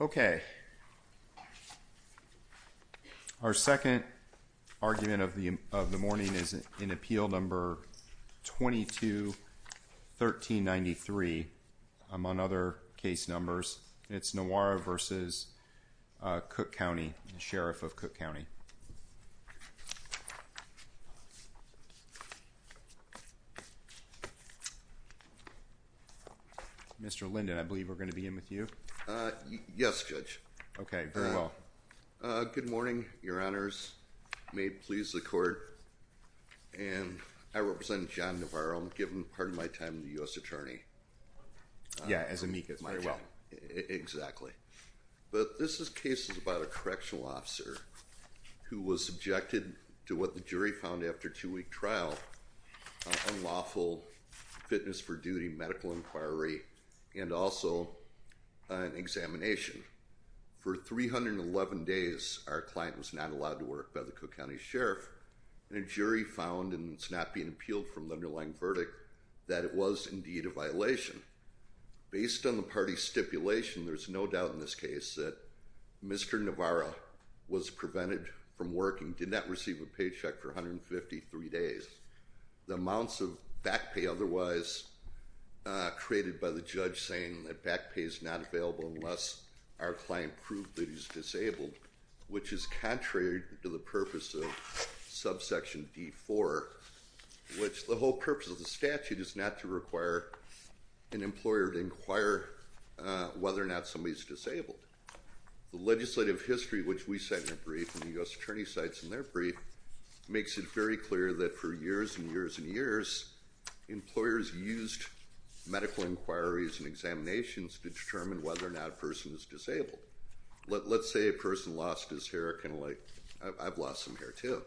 Okay, our second argument of the morning is in Appeal Number 22-1393, among other case numbers. It's Nawara v. Cook County, Sheriff of Cook County. Mr. Linden, I believe we're going to begin with you. Yes, Judge. Okay, very well. Good morning, Your Honors. May it please the Court. I represent John Nawara. I'm giving part of my time to the U.S. Attorney. Yeah, as amicus, very well. Exactly. But this is cases about a correctional officer who was subjected to what the jury found after a two-week trial, unlawful fitness for duty, medical inquiry, and also an examination. For 311 days, our client was not allowed to work by the Cook County Sheriff. And a jury found, and it's not being appealed from the underlying verdict, that it was indeed a violation. Based on the party's stipulation, there's no doubt in this case that Mr. Nawara was prevented from working, did not receive a paycheck for 153 days. The amounts of back pay otherwise created by the judge saying that back pay is not available unless our client proved that he's disabled, which is contrary to the purpose of subsection D4, which the whole purpose of the statute is not to require an employer to inquire whether or not somebody's disabled. The legislative history, which we cite in a brief and the U.S. Attorney cites in their brief, makes it very clear that for years and years and years, employers used medical inquiries and examinations to determine whether or not a person is disabled. Let's say a person lost his hair, kind of like I've lost some hair too,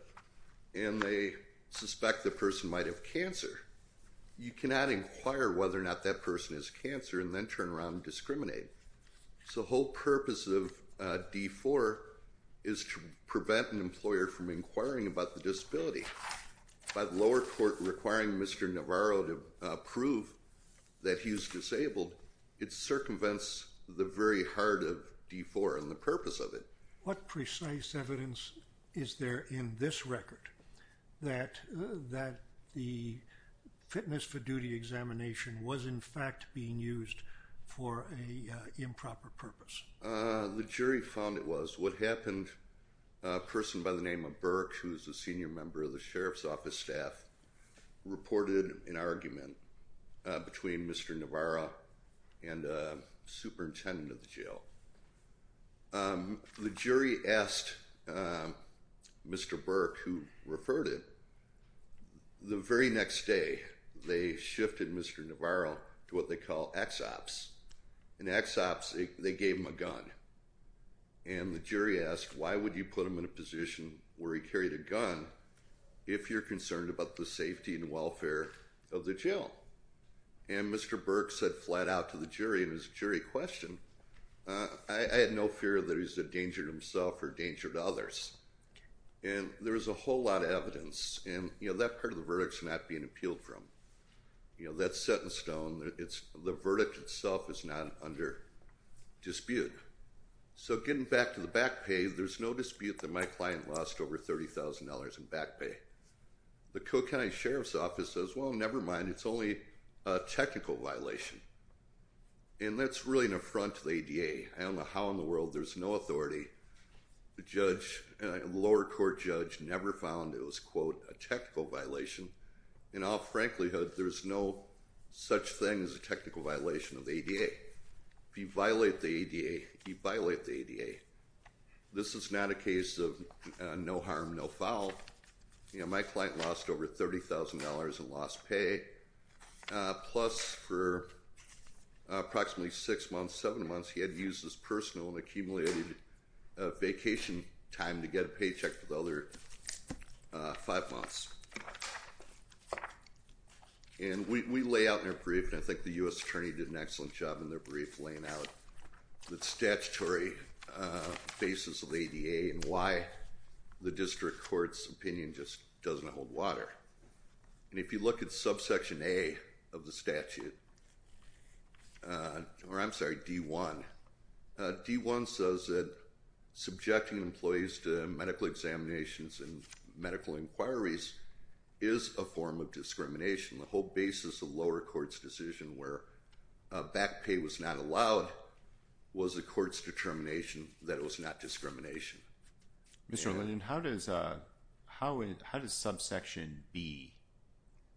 and they suspect the person might have cancer. You cannot inquire whether or not that person has cancer and then turn around and discriminate. So the whole purpose of D4 is to prevent an employer from inquiring about the disability. By the lower court requiring Mr. Nawara to prove that he's disabled, it circumvents the very heart of D4 and the purpose of it. What precise evidence is there in this record that the fitness for duty examination was in fact being used for an improper purpose? The jury found it was. What happened, a person by the name of Burke, who's a senior member of the sheriff's office staff, reported an argument between Mr. Nawara and a superintendent of the jail. The jury asked Mr. Burke, who referred it, the very next day, they shifted Mr. Nawara to what they call ex-ops. In ex-ops, they gave him a gun. And the jury asked, why would you put him in a position where he carried a gun if you're concerned about the safety and welfare of the jail? And Mr. Burke said flat out to the jury, and it was a jury question, I had no fear that he was a danger to himself or a danger to others. And there was a whole lot of evidence, and that part of the verdict's not being appealed from. That's set in stone. The verdict itself is not under dispute. So getting back to the back pay, there's no dispute that my client lost over $30,000 in back pay. The Koch County Sheriff's Office says, well, never mind, it's only a technical violation. And that's really an affront to the ADA. I don't know how in the world there's no authority. The lower court judge never found it was, quote, a technical violation. In all franklihood, there's no such thing as a technical violation of the ADA. If you violate the ADA, you violate the ADA. This is not a case of no harm, no foul. My client lost over $30,000 in lost pay, plus for approximately six months, seven months, he had to use his personal and accumulated vacation time to get a paycheck for the other five months. And we lay out in our brief, and I think the U.S. Attorney did an excellent job in their brief laying out the statutory basis of the ADA and why the district court's opinion just doesn't hold water. And if you look at subsection A of the statute, or I'm sorry, D1, D1 says that subjecting employees to medical examinations and medical inquiries is a form of discrimination. The whole basis of lower court's decision where back pay was not allowed was the court's determination that it was not discrimination. Mr. Lillian, how does subsection B,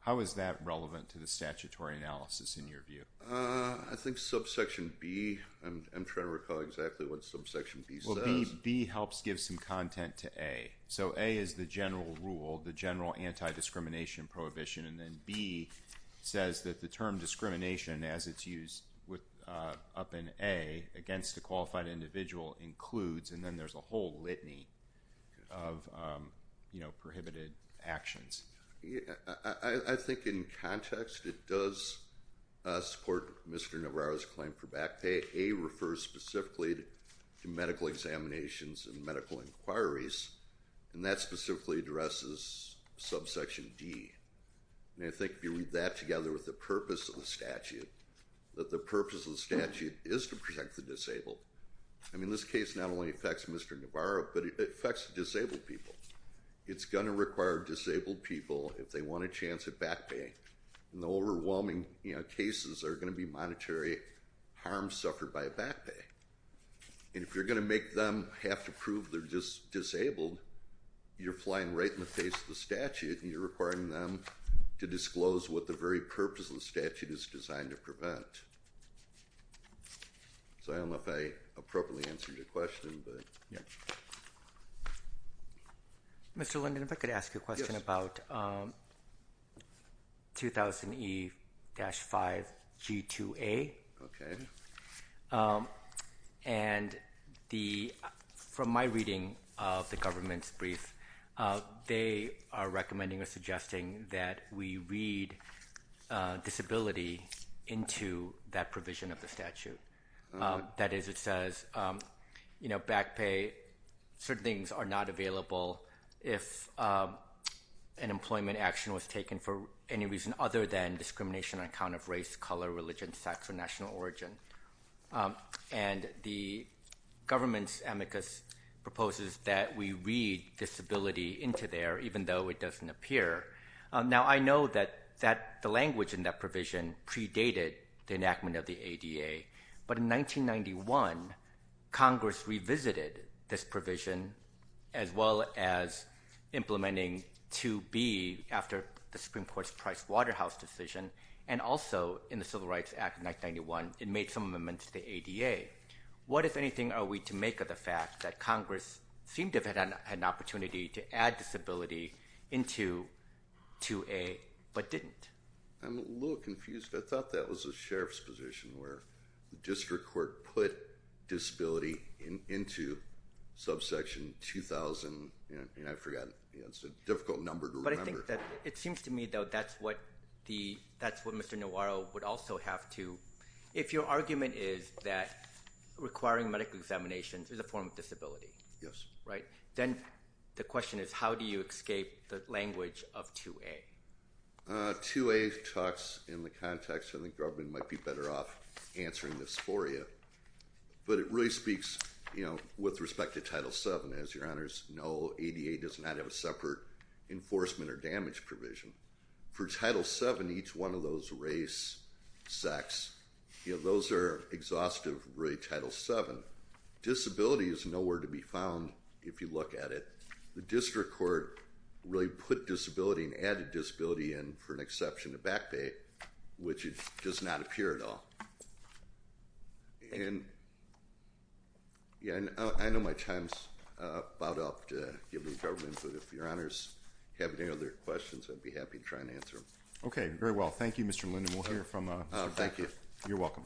how is that relevant to the statutory analysis in your view? I think subsection B, I'm trying to recall exactly what subsection B says. Well, B helps give some content to A. So A is the general rule, the general anti-discrimination prohibition, and then B says that the term discrimination, as it's used up in A, against a qualified individual includes, and then there's a whole litany of prohibited actions. I think in context it does support Mr. Navarro's claim for back pay. A refers specifically to medical examinations and medical inquiries, and that specifically addresses subsection D. And I think if you read that together with the purpose of the statute, that the purpose of the statute is to protect the disabled. I mean, this case not only affects Mr. Navarro, but it affects disabled people. It's going to require disabled people, if they want a chance at back pay, and the overwhelming cases are going to be monetary harm suffered by back pay. And if you're going to make them have to prove they're disabled, you're flying right in the face of the statute, and you're requiring them to disclose what the very purpose of the statute is designed to prevent. So I don't know if I appropriately answered your question, but, yeah. Mr. Linden, if I could ask you a question about 2000E-5G2A. Okay. And from my reading of the government's brief, they are recommending or suggesting that we read disability into that provision of the statute. That is, it says, you know, back pay, certain things are not available if an employment action was taken for any reason other than discrimination on account of race, color, religion, sex, or national origin. And the government's amicus proposes that we read disability into there, even though it doesn't appear. Now, I know that the language in that provision predated the enactment of the ADA, but in 1991, Congress revisited this provision, as well as implementing 2B after the Supreme Court's Price Waterhouse decision, and also in the Civil Rights Act of 1991, it made some amendments to the ADA. What, if anything, are we to make of the fact that Congress seemed to have had an opportunity to add disability into 2A, but didn't? I'm a little confused. I thought that was the sheriff's position, where the district court put disability into subsection 2000. I forgot. It's a difficult number to remember. But I think that it seems to me, though, that's what Mr. Noiro would also have to. If your argument is that requiring medical examinations is a form of disability, Yes. then the question is, how do you escape the language of 2A? 2A talks in the context, and the government might be better off answering this for you, but it really speaks with respect to Title VII. As your honors know, ADA does not have a separate enforcement or damage provision. For Title VII, each one of those race, sex, those are exhaustive, really, Title VII. Disability is nowhere to be found, if you look at it. The district court really put disability and added disability in, for an exception to Back Bay, which does not appear at all. I know my time's about up to give any government input. If your honors have any other questions, I'd be happy to try and answer them. Okay, very well. Thank you, Mr. Linden. We'll hear from Mr. Linden. Thank you. You're welcome.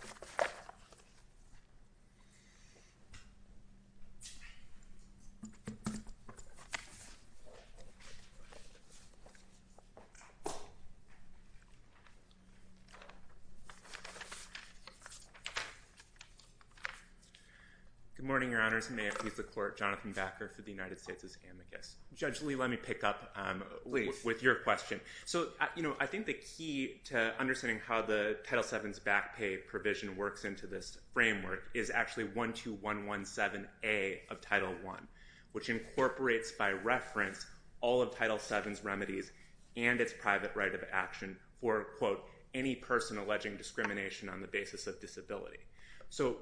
Good morning, your honors. May it please the court, Jonathan Backer for the United States Amicus. Judge Lee, let me pick up with your question. I think the key to understanding how the Title VII's Back Bay provision works into this framework is actually 12117A of Title I, which incorporates by reference all of Title VII's remedies and its private right of action for, quote, any person alleging discrimination on the basis of disability.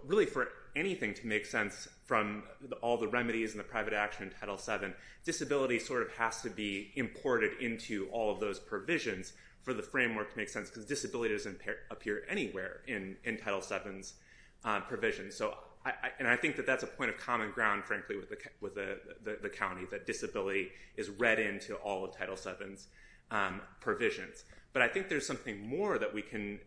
Really, for anything to make sense from all the remedies and the private action in Title VII, disability sort of has to be imported into all of those provisions for the framework to make sense because disability doesn't appear anywhere in Title VII's provision. And I think that that's a point of common ground, frankly, with the county, that disability is read into all of Title VII's provisions. But I think there's something more that we can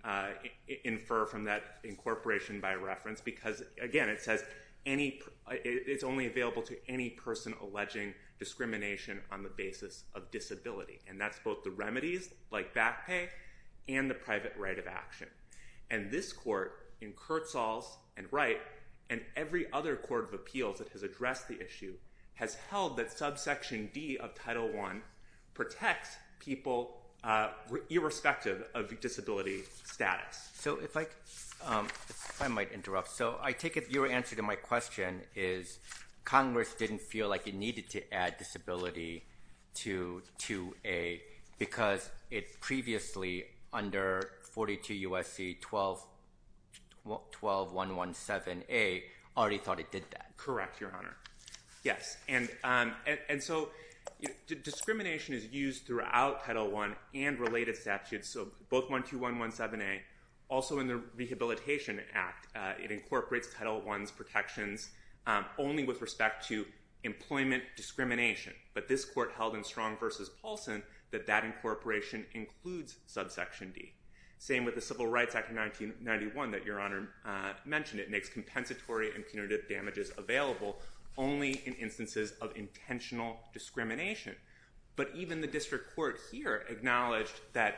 infer from that incorporation by reference because, again, it says it's only available to any person alleging discrimination on the basis of disability, and that's both the remedies, like Back Bay, and the private right of action. And this court, in Kurtzall's and Wright, and every other court of appeals that has addressed the issue, has held that subsection D of Title I protects people irrespective of disability status. So if I might interrupt. So I take it your answer to my question is Congress didn't feel like it needed to add disability to 2A because it previously, under 42 U.S.C. 12117A, already thought it did that. Correct, Your Honor. Yes. And so discrimination is used throughout Title I and related statutes, so both 12117A, also in the Rehabilitation Act. It incorporates Title I's protections only with respect to employment discrimination. But this court held in Strong v. Paulson that that incorporation includes subsection D. Same with the Civil Rights Act of 1991 that Your Honor mentioned. It makes compensatory and punitive damages available only in instances of intentional discrimination. But even the district court here acknowledged that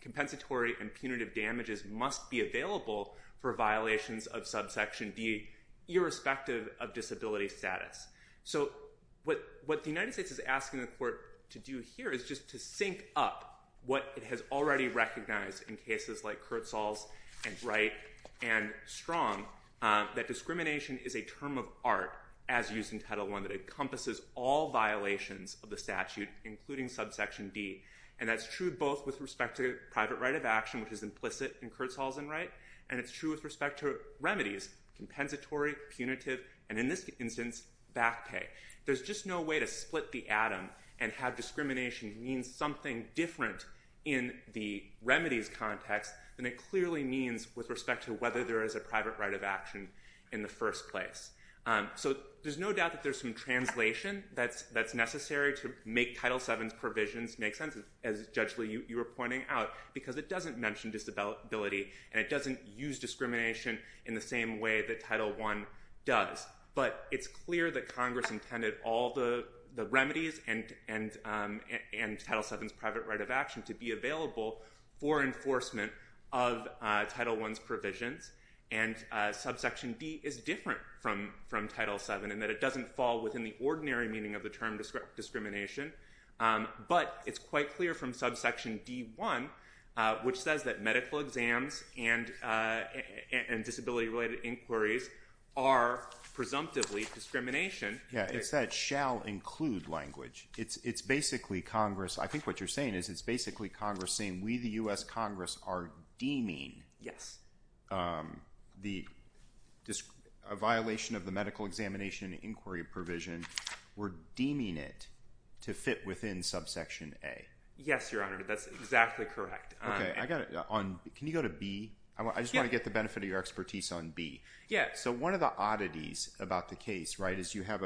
compensatory and punitive damages must be available for violations of subsection D irrespective of disability status. So what the United States is asking the court to do here is just to sync up what it has already recognized in cases like Kurtzall's and Wright and Strong, that discrimination is a term of art, as used in Title I, that encompasses all violations of the statute, including subsection D. And that's true both with respect to private right of action, which is implicit in Kurtzall's and Wright, and it's true with respect to remedies, compensatory, punitive, and in this instance, back pay. There's just no way to split the atom and have discrimination mean something different in the remedies context than it clearly means with respect to whether there is a private right of action in the first place. So there's no doubt that there's some translation that's necessary to make Title VII's provisions make sense, as, Judge Lee, you were pointing out, because it doesn't mention disability, and it doesn't use discrimination in the same way that Title I does. But it's clear that Congress intended all the remedies and Title VII's private right of action to be available for enforcement of Title I's provisions, and subsection D is different from Title VII, in that it doesn't fall within the ordinary meaning of the term discrimination. But it's quite clear from subsection D.1, which says that medical exams and disability-related inquiries are presumptively discrimination. Yeah, it's that shall include language. It's basically Congress – I think what you're saying is it's basically Congress saying we, the U.S. Congress, are deeming a violation of the medical examination and inquiry provision. We're deeming it to fit within subsection A. Yes, Your Honor. That's exactly correct. Okay. Can you go to B? I just want to get the benefit of your expertise on B. Yeah, so one of the oddities about the case is you have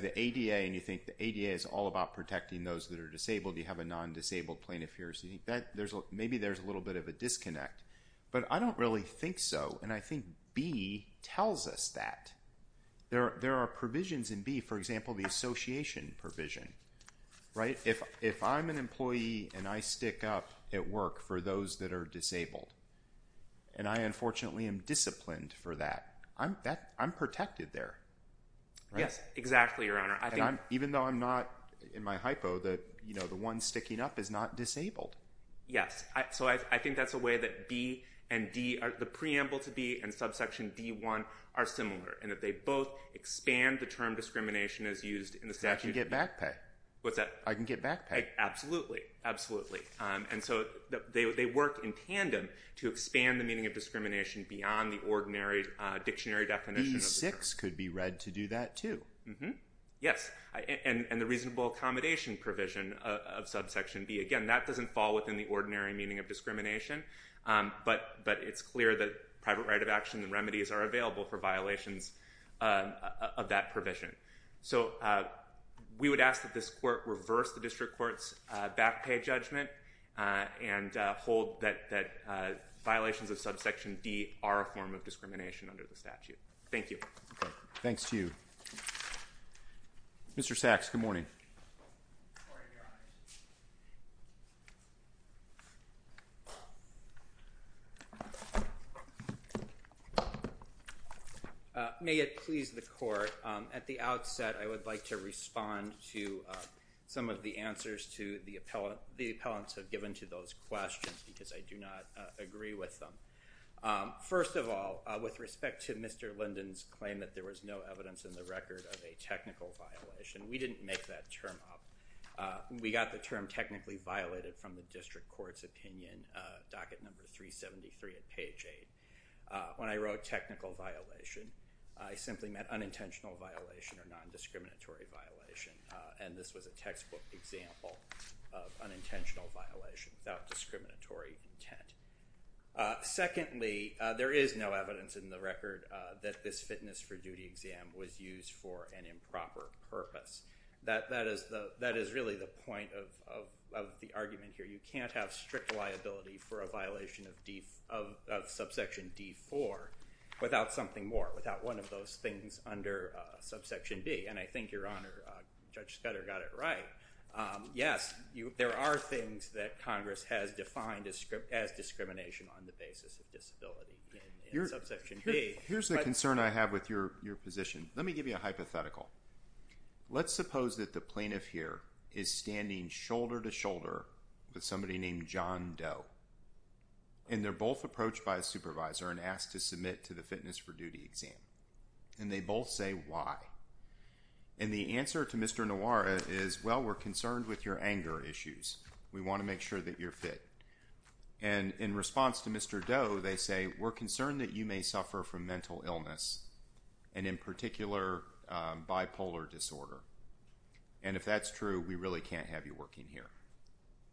the ADA, and you think the ADA is all about protecting those that are disabled. You have a non-disabled plaintiff here, so maybe there's a little bit of a disconnect. But I don't really think so, and I think B tells us that. There are provisions in B, for example, the association provision. If I'm an employee and I stick up at work for those that are disabled, and I unfortunately am disciplined for that, I'm protected there. Yes, exactly, Your Honor. Even though I'm not in my hypo, the one sticking up is not disabled. Yes, so I think that's a way that B and D – the preamble to B and subsection D1 are similar in that they both expand the term discrimination as used in the statute. I can get back pay. What's that? I can get back pay. Absolutely, absolutely. And so they work in tandem to expand the meaning of discrimination beyond the ordinary dictionary definition of the term. B6 could be read to do that too. Yes, and the reasonable accommodation provision of subsection B. Again, that doesn't fall within the ordinary meaning of discrimination, but it's clear that private right of action and remedies are available for violations of that provision. So we would ask that this court reverse the district court's back pay judgment and hold that violations of subsection D are a form of discrimination under the statute. Thank you. Thanks to you. Mr. Sachs, good morning. Good morning, Your Honor. May it please the court, at the outset I would like to respond to some of the answers to the appellants have given to those questions because I do not agree with them. First of all, with respect to Mr. Linden's claim that there was no evidence in the record of a technical violation, we didn't make that term up. We got the term technically violated from the district court's opinion, docket number 373 at page 8. When I wrote technical violation, I simply meant unintentional violation or nondiscriminatory violation, and this was a textbook example of unintentional violation without discriminatory intent. Secondly, there is no evidence in the record that this fitness for duty exam was used for an improper purpose. That is really the point of the argument here. You can't have strict liability for a violation of subsection D-4 without something more, without one of those things under subsection D, and I think Your Honor, Judge Scudder got it right. Yes, there are things that Congress has defined as discrimination on the basis of disability in subsection D. Here's the concern I have with your position. Let me give you a hypothetical. Let's suppose that the plaintiff here is standing shoulder to shoulder with somebody named John Doe, and they're both approached by a supervisor and asked to submit to the fitness for duty exam, and they both say why, and the answer to Mr. Noir is, well, we're concerned with your anger issues. We want to make sure that you're fit, and in response to Mr. Doe, they say, we're concerned that you may suffer from mental illness, and in particular, bipolar disorder, and if that's true, we really can't have you working here.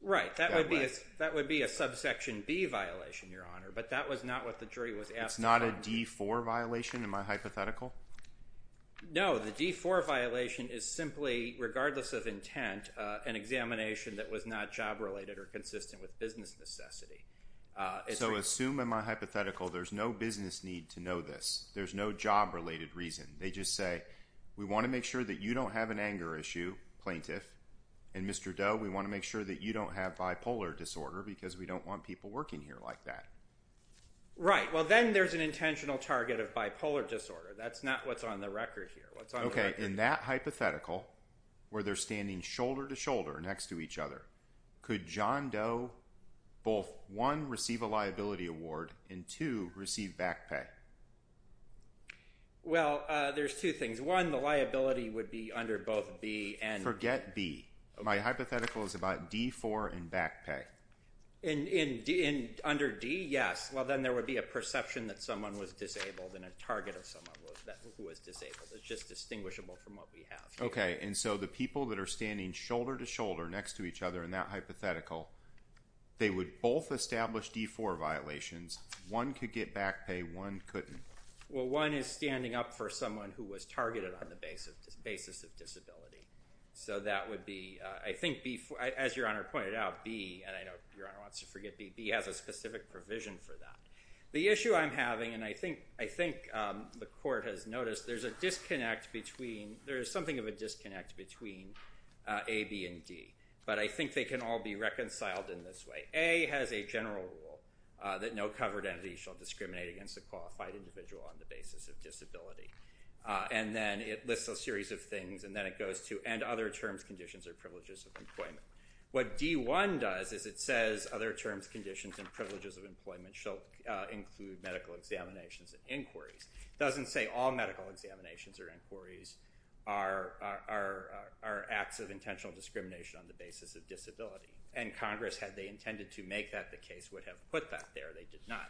Right, that would be a subsection B violation, Your Honor, but that was not what the jury was asking for. It's not a D-4 violation in my hypothetical? No, the D-4 violation is simply, regardless of intent, an examination that was not job-related or consistent with business necessity. So assume in my hypothetical there's no business need to know this. There's no job-related reason. They just say, we want to make sure that you don't have an anger issue, plaintiff, and Mr. Doe, we want to make sure that you don't have bipolar disorder because we don't want people working here like that. Right, well, then there's an intentional target of bipolar disorder. That's not what's on the record here. Okay, in that hypothetical, where they're standing shoulder to shoulder next to each other, could John Doe both, one, receive a liability award, and two, receive back pay? Well, there's two things. One, the liability would be under both B and B. Forget B. My hypothetical is about D-4 and back pay. Under D, yes. Well, then there would be a perception that someone was disabled and a target of someone who was disabled. It's just distinguishable from what we have here. Okay, and so the people that are standing shoulder to shoulder next to each other in that hypothetical, they would both establish D-4 violations. One could get back pay. One couldn't. Well, one is standing up for someone who was targeted on the basis of disability. So that would be, I think, as Your Honor pointed out, B, and I know Your Honor wants to forget B. B has a specific provision for that. The issue I'm having, and I think the court has noticed, there is something of a disconnect between A, B, and D, but I think they can all be reconciled in this way. A has a general rule that no covered entity shall discriminate against a qualified individual on the basis of disability. And then it lists a series of things, and then it goes to, and other terms, conditions, or privileges of employment. What D-1 does is it says other terms, conditions, and privileges of employment shall include medical examinations and inquiries. It doesn't say all medical examinations or inquiries are acts of intentional discrimination on the basis of disability. And Congress, had they intended to make that the case, would have put that there. They did not.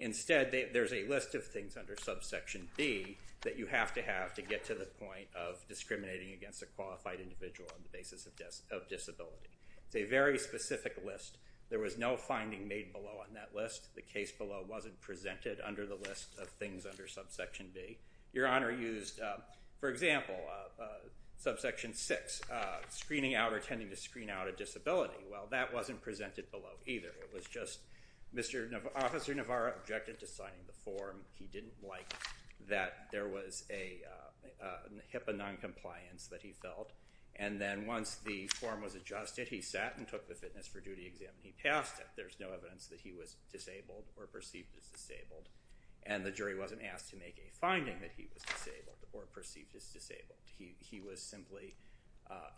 Instead, there's a list of things under subsection B that you have to have to get to the point of discriminating against a qualified individual on the basis of disability. It's a very specific list. There was no finding made below on that list. The case below wasn't presented under the list of things under subsection B. Your Honor used, for example, subsection 6, screening out or tending to screen out a disability. Well, that wasn't presented below either. It was just Officer Navarro objected to signing the form. He didn't like that there was a HIPAA noncompliance that he felt. And then once the form was adjusted, he sat and took the fitness for duty exam, and he passed it. There's no evidence that he was disabled or perceived as disabled. And the jury wasn't asked to make a finding that he was disabled or perceived as disabled. He was simply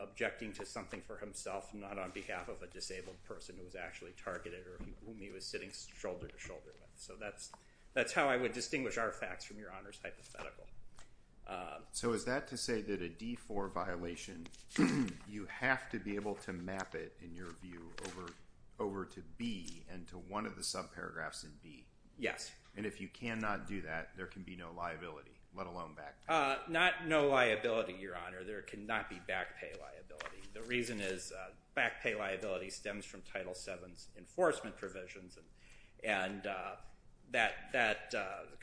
objecting to something for himself, not on behalf of a disabled person who was actually targeted or whom he was sitting shoulder to shoulder with. So that's how I would distinguish our facts from Your Honor's hypothetical. So is that to say that a D4 violation, you have to be able to map it, in your view, over to B and to one of the subparagraphs in B? Yes. And if you cannot do that, there can be no liability, let alone back pay? Not no liability, Your Honor. There cannot be back pay liability. The reason is back pay liability stems from Title VII's enforcement provisions, and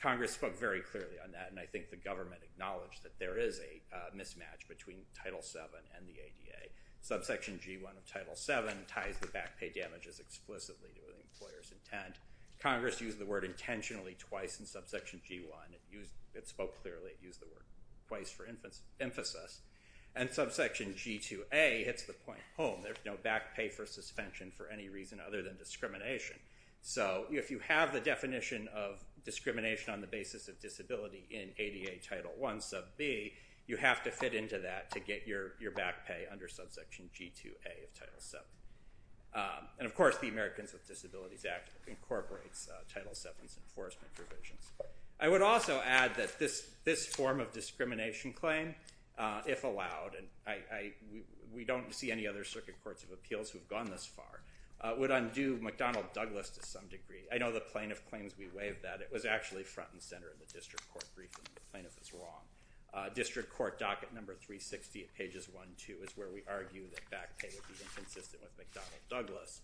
Congress spoke very clearly on that, and I think the government acknowledged that there is a mismatch between Title VII and the ADA. Subsection G1 of Title VII ties the back pay damages explicitly to the employer's intent. Congress used the word intentionally twice in Subsection G1. It spoke clearly. It used the word twice for emphasis. And Subsection G2A hits the point home. There's no back pay for suspension for any reason other than discrimination. So if you have the definition of discrimination on the basis of disability in ADA Title I, Sub B, you have to fit into that to get your back pay under Subsection G2A of Title VII. And, of course, the Americans with Disabilities Act incorporates Title VII's enforcement provisions. I would also add that this form of discrimination claim, if allowed, and we don't see any other circuit courts of appeals who have gone this far, would undo McDonnell-Douglas to some degree. I know the plaintiff claims we waive that. It was actually front and center in the district court briefing. The plaintiff was wrong. District Court Docket Number 360 at pages 1 and 2 is where we argue that back pay would be inconsistent with McDonnell-Douglas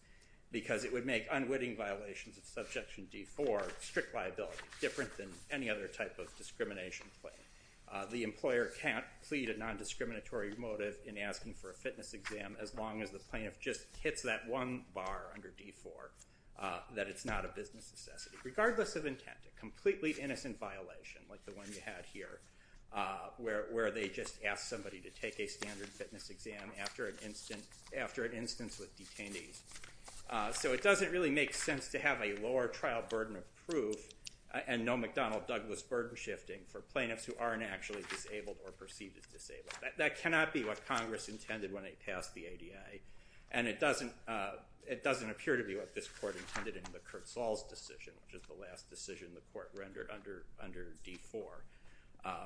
because it would make unwitting violations of Subjection D4, strict liability, different than any other type of discrimination claim. The employer can't plead a nondiscriminatory motive in asking for a fitness exam as long as the plaintiff just hits that one bar under D4, that it's not a business necessity, regardless of intent, a completely innocent violation like the one you had here where they just asked somebody to take a standard fitness exam after an instance with detainees. So it doesn't really make sense to have a lower trial burden of proof and no McDonnell-Douglas burden shifting for plaintiffs who aren't actually disabled or perceived as disabled. That cannot be what Congress intended when they passed the ADA, and it doesn't appear to be what this court intended in the Kurtzals decision, which is the last decision the court rendered under D4.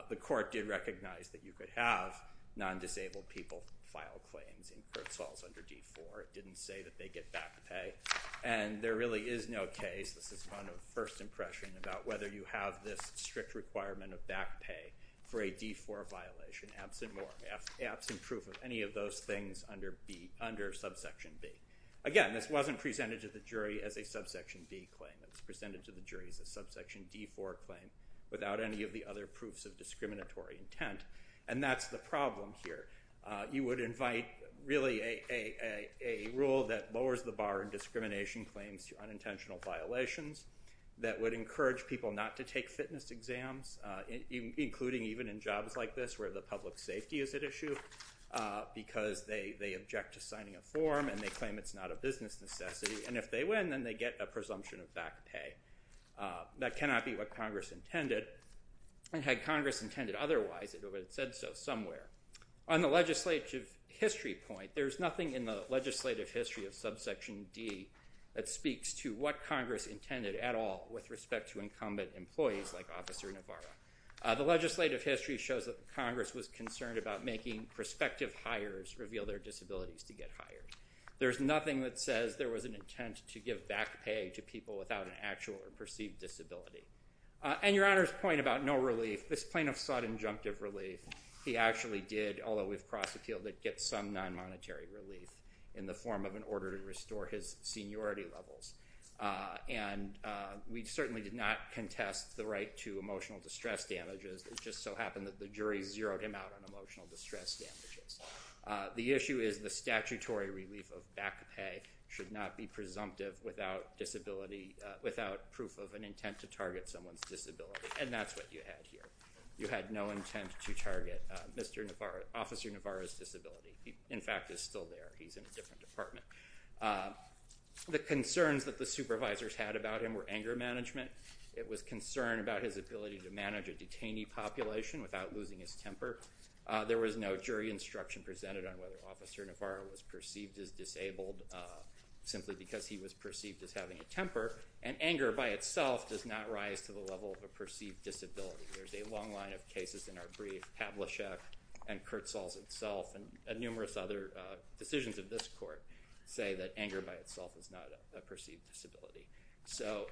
The court did recognize that you could have nondisabled people file claims in Kurtzals under D4. It didn't say that they get back pay, and there really is no case. This is one of first impression about whether you have this strict requirement of back pay for a D4 violation absent proof of any of those things under subsection B. Again, this wasn't presented to the jury as a subsection B claim. It was presented to the jury as a subsection D4 claim without any of the other proofs of discriminatory intent, and that's the problem here. You would invite really a rule that lowers the bar in discrimination claims to unintentional violations that would encourage people not to take fitness exams, including even in jobs like this where the public safety is at issue, because they object to signing a form and they claim it's not a business necessity, and if they win, then they get a presumption of back pay. That cannot be what Congress intended, and had Congress intended otherwise, it would have said so somewhere. On the legislative history point, there's nothing in the legislative history of subsection D that speaks to what Congress intended at all with respect to incumbent employees like Officer Navarro. The legislative history shows that Congress was concerned about making prospective hires reveal their disabilities to get hired. There's nothing that says there was an intent to give back pay to people without an actual or perceived disability. And Your Honor's point about no relief, this plaintiff sought injunctive relief. He actually did, although we've cross-appealed it, get some non-monetary relief in the form of an order to restore his seniority levels, and we certainly did not contest the right to emotional distress damages. It just so happened that the jury zeroed him out on emotional distress damages. The issue is the statutory relief of back pay should not be presumptive without proof of an intent to target someone's disability, and that's what you had here. You had no intent to target Officer Navarro's disability. He, in fact, is still there. He's in a different department. The concerns that the supervisors had about him were anger management. It was concern about his ability to manage a detainee population without losing his temper. There was no jury instruction presented on whether Officer Navarro was perceived as disabled simply because he was perceived as having a temper, and anger by itself does not rise to the level of a perceived disability. There's a long line of cases in our brief. Pavlicek and Kurtzels himself and numerous other decisions of this court say that anger by itself is not a perceived disability. So,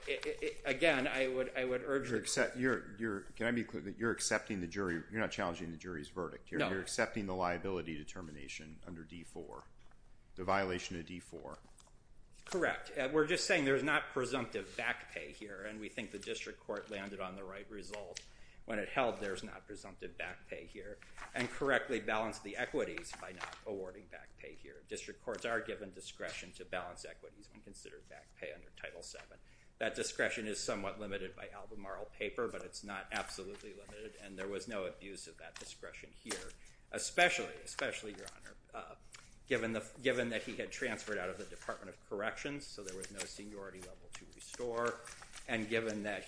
again, I would urge that you're accepting the jury. You're not challenging the jury's verdict. You're accepting the liability determination under D-4, the violation of D-4. Correct. We're just saying there's not presumptive back pay here, and we think the district court landed on the right result when it held there's not presumptive back pay here and correctly balanced the equities by not awarding back pay here. District courts are given discretion to balance equities when considered back pay under Title VII. That discretion is somewhat limited by Albemarle paper, but it's not absolutely limited, and there was no abuse of that discretion here, especially, especially, Your Honor, given that he had transferred out of the Department of Corrections, so there was no seniority level to restore, and given that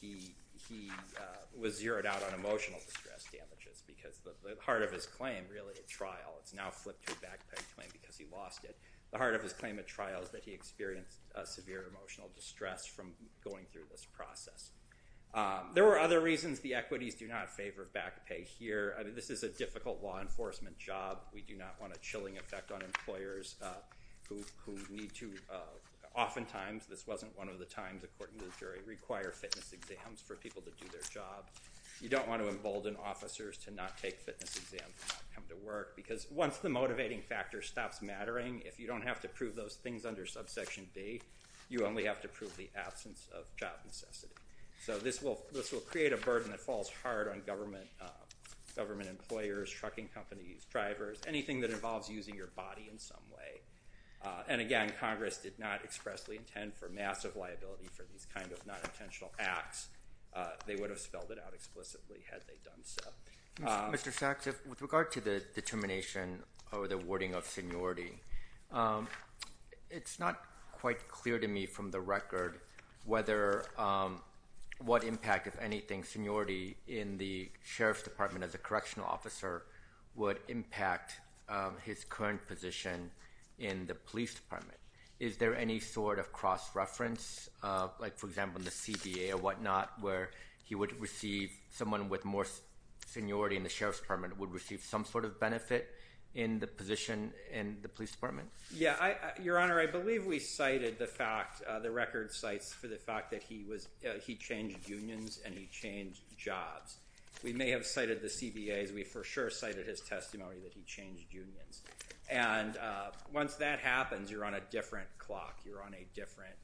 he was zeroed out on emotional distress damages because the heart of his claim really at trial, it's now flipped to a back pay claim because he lost it. The heart of his claim at trial is that he experienced severe emotional distress from going through this process. There were other reasons the equities do not favor back pay here. I mean, this is a difficult law enforcement job. We do not want a chilling effect on employers who need to oftentimes, this wasn't one of the times according to the jury, require fitness exams for people to do their job. You don't want to embolden officers to not take fitness exams and not come to work because once the motivating factor stops mattering, if you don't have to prove those things under Subsection B, you only have to prove the absence of job necessity. So this will create a burden that falls hard on government employers, trucking companies, drivers, anything that involves using your body in some way. And, again, Congress did not expressly intend for massive liability for these kind of non-intentional acts. They would have spelled it out explicitly had they done so. Mr. Sachs, with regard to the determination or the wording of seniority, it's not quite clear to me from the record what impact, if anything, seniority in the Sheriff's Department as a correctional officer would impact his current position in the Police Department. Is there any sort of cross-reference, like, for example, in the CBA or whatnot, where he would receive someone with more seniority in the Sheriff's Department would receive some sort of benefit in the position in the Police Department? Yeah. Your Honor, I believe we cited the fact, the record cites for the fact, that he changed unions and he changed jobs. We may have cited the CBAs. We for sure cited his testimony that he changed unions. And once that happens, you're on a different clock. You're on a different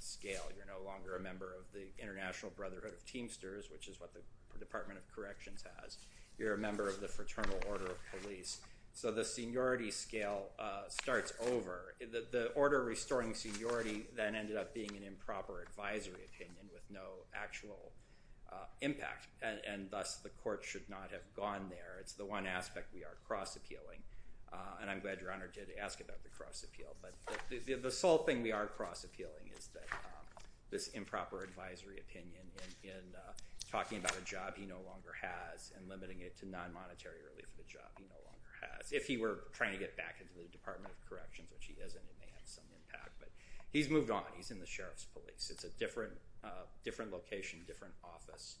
scale. You're no longer a member of the International Brotherhood of Teamsters, which is what the Department of Corrections has. You're a member of the Fraternal Order of Police. So the seniority scale starts over. The order restoring seniority then ended up being an improper advisory opinion with no actual impact, and thus the court should not have gone there. It's the one aspect we are cross-appealing. And I'm glad Your Honor did ask about the cross-appeal. But the sole thing we are cross-appealing is this improper advisory opinion in talking about a job he no longer has and limiting it to non-monetary relief of a job he no longer has. If he were trying to get back into the Department of Corrections, which he isn't, it may have some impact. But he's moved on. He's in the Sheriff's Police. It's a different location, different office,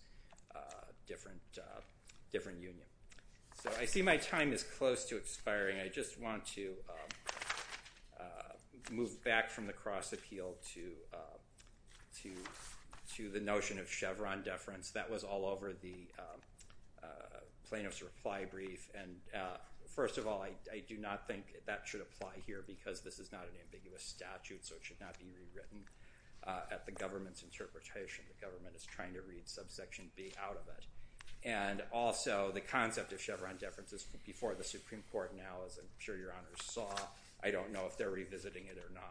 different union. So I see my time is close to expiring. I just want to move back from the cross-appeal to the notion of Chevron deference. That was all over the Plano's reply brief. And first of all, I do not think that should apply here because this is not an ambiguous statute, so it should not be rewritten at the government's interpretation. The government is trying to read subsection B out of it. And also, the concept of Chevron deference is before the Supreme Court now, as I'm sure Your Honors saw. I don't know if they're revisiting it or not.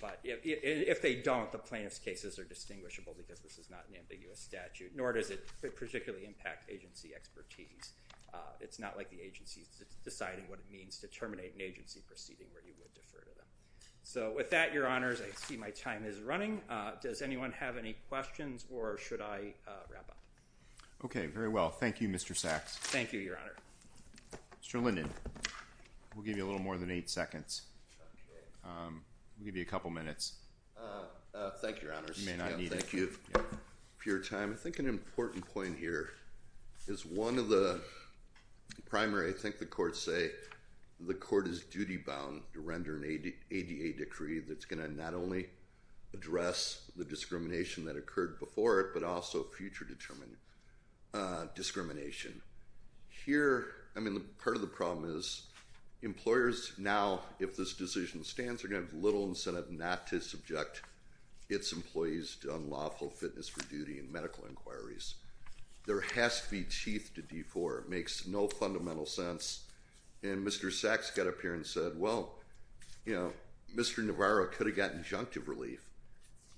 But if they don't, the plaintiff's cases are distinguishable because this is not an ambiguous statute, nor does it particularly impact agency expertise. It's not like the agency is deciding what it means to terminate an agency proceeding where you would defer to them. So with that, Your Honors, I see my time is running. Does anyone have any questions or should I wrap up? Okay, very well. Thank you, Mr. Sachs. Thank you, Your Honor. Mr. Linden, we'll give you a little more than eight seconds. We'll give you a couple minutes. Thank you, Your Honors. You may not need it. Thank you for your time. I think an important point here is one of the primary, I think the courts say, the court is duty-bound to render an ADA decree that's going to not only address the discrimination that occurred before it, but also future discrimination. Here, I mean, part of the problem is employers now, if this decision stands, are going to have little incentive not to subject its employees to unlawful fitness for duty and medical inquiries. There has to be teeth to defore. It makes no fundamental sense. Mr. Sachs got up here and said, well, Mr. Navarro could have gotten injunctive relief,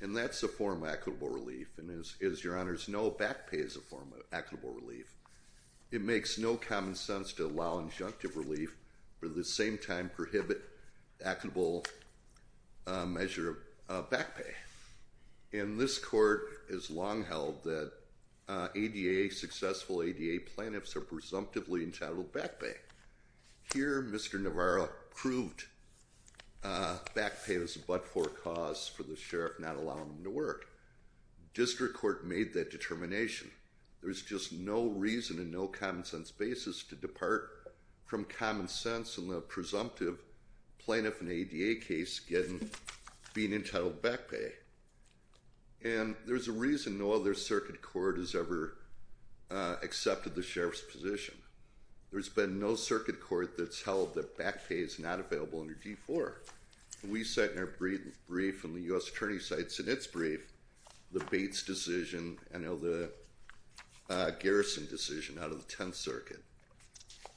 and that's a form of equitable relief. As Your Honors know, back pay is a form of equitable relief. It makes no common sense to allow injunctive relief, but at the same time prohibit equitable measure of back pay. And this court has long held that ADA, successful ADA plaintiffs, are presumptively entitled back pay. Here, Mr. Navarro proved back pay was a but-for cause for the sheriff not allowing them to work. District Court made that determination. There's just no reason and no common-sense basis to depart from common sense in the presumptive plaintiff in the ADA case being entitled back pay. And there's a reason no other circuit court has ever accepted the sheriff's position. There's been no circuit court that's held that back pay is not available under D-4. We cite in our brief and the U.S. Attorney's cites in its brief the Bates decision and the Garrison decision out of the Tenth Circuit.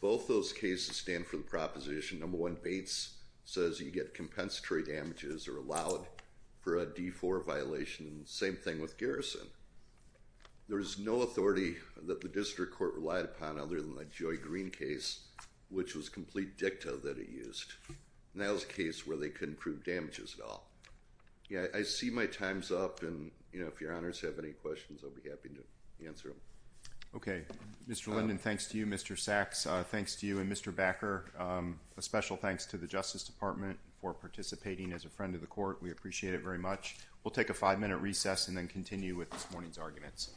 Both those cases stand for the proposition. Number one, Bates says you get compensatory damages or allowed for a D-4 violation. Same thing with Garrison. There is no authority that the District Court relied upon other than the Joy Green case, which was complete dicta that it used. And that was a case where they couldn't prove damages at all. I see my time's up, and if Your Honors have any questions, I'll be happy to answer them. Okay, Mr. Linden, thanks to you. Mr. Sachs, thanks to you. And Mr. Backer, a special thanks to the Justice Department for participating as a friend of the court. We appreciate it very much. We'll take a five-minute recess and then continue with this morning's arguments.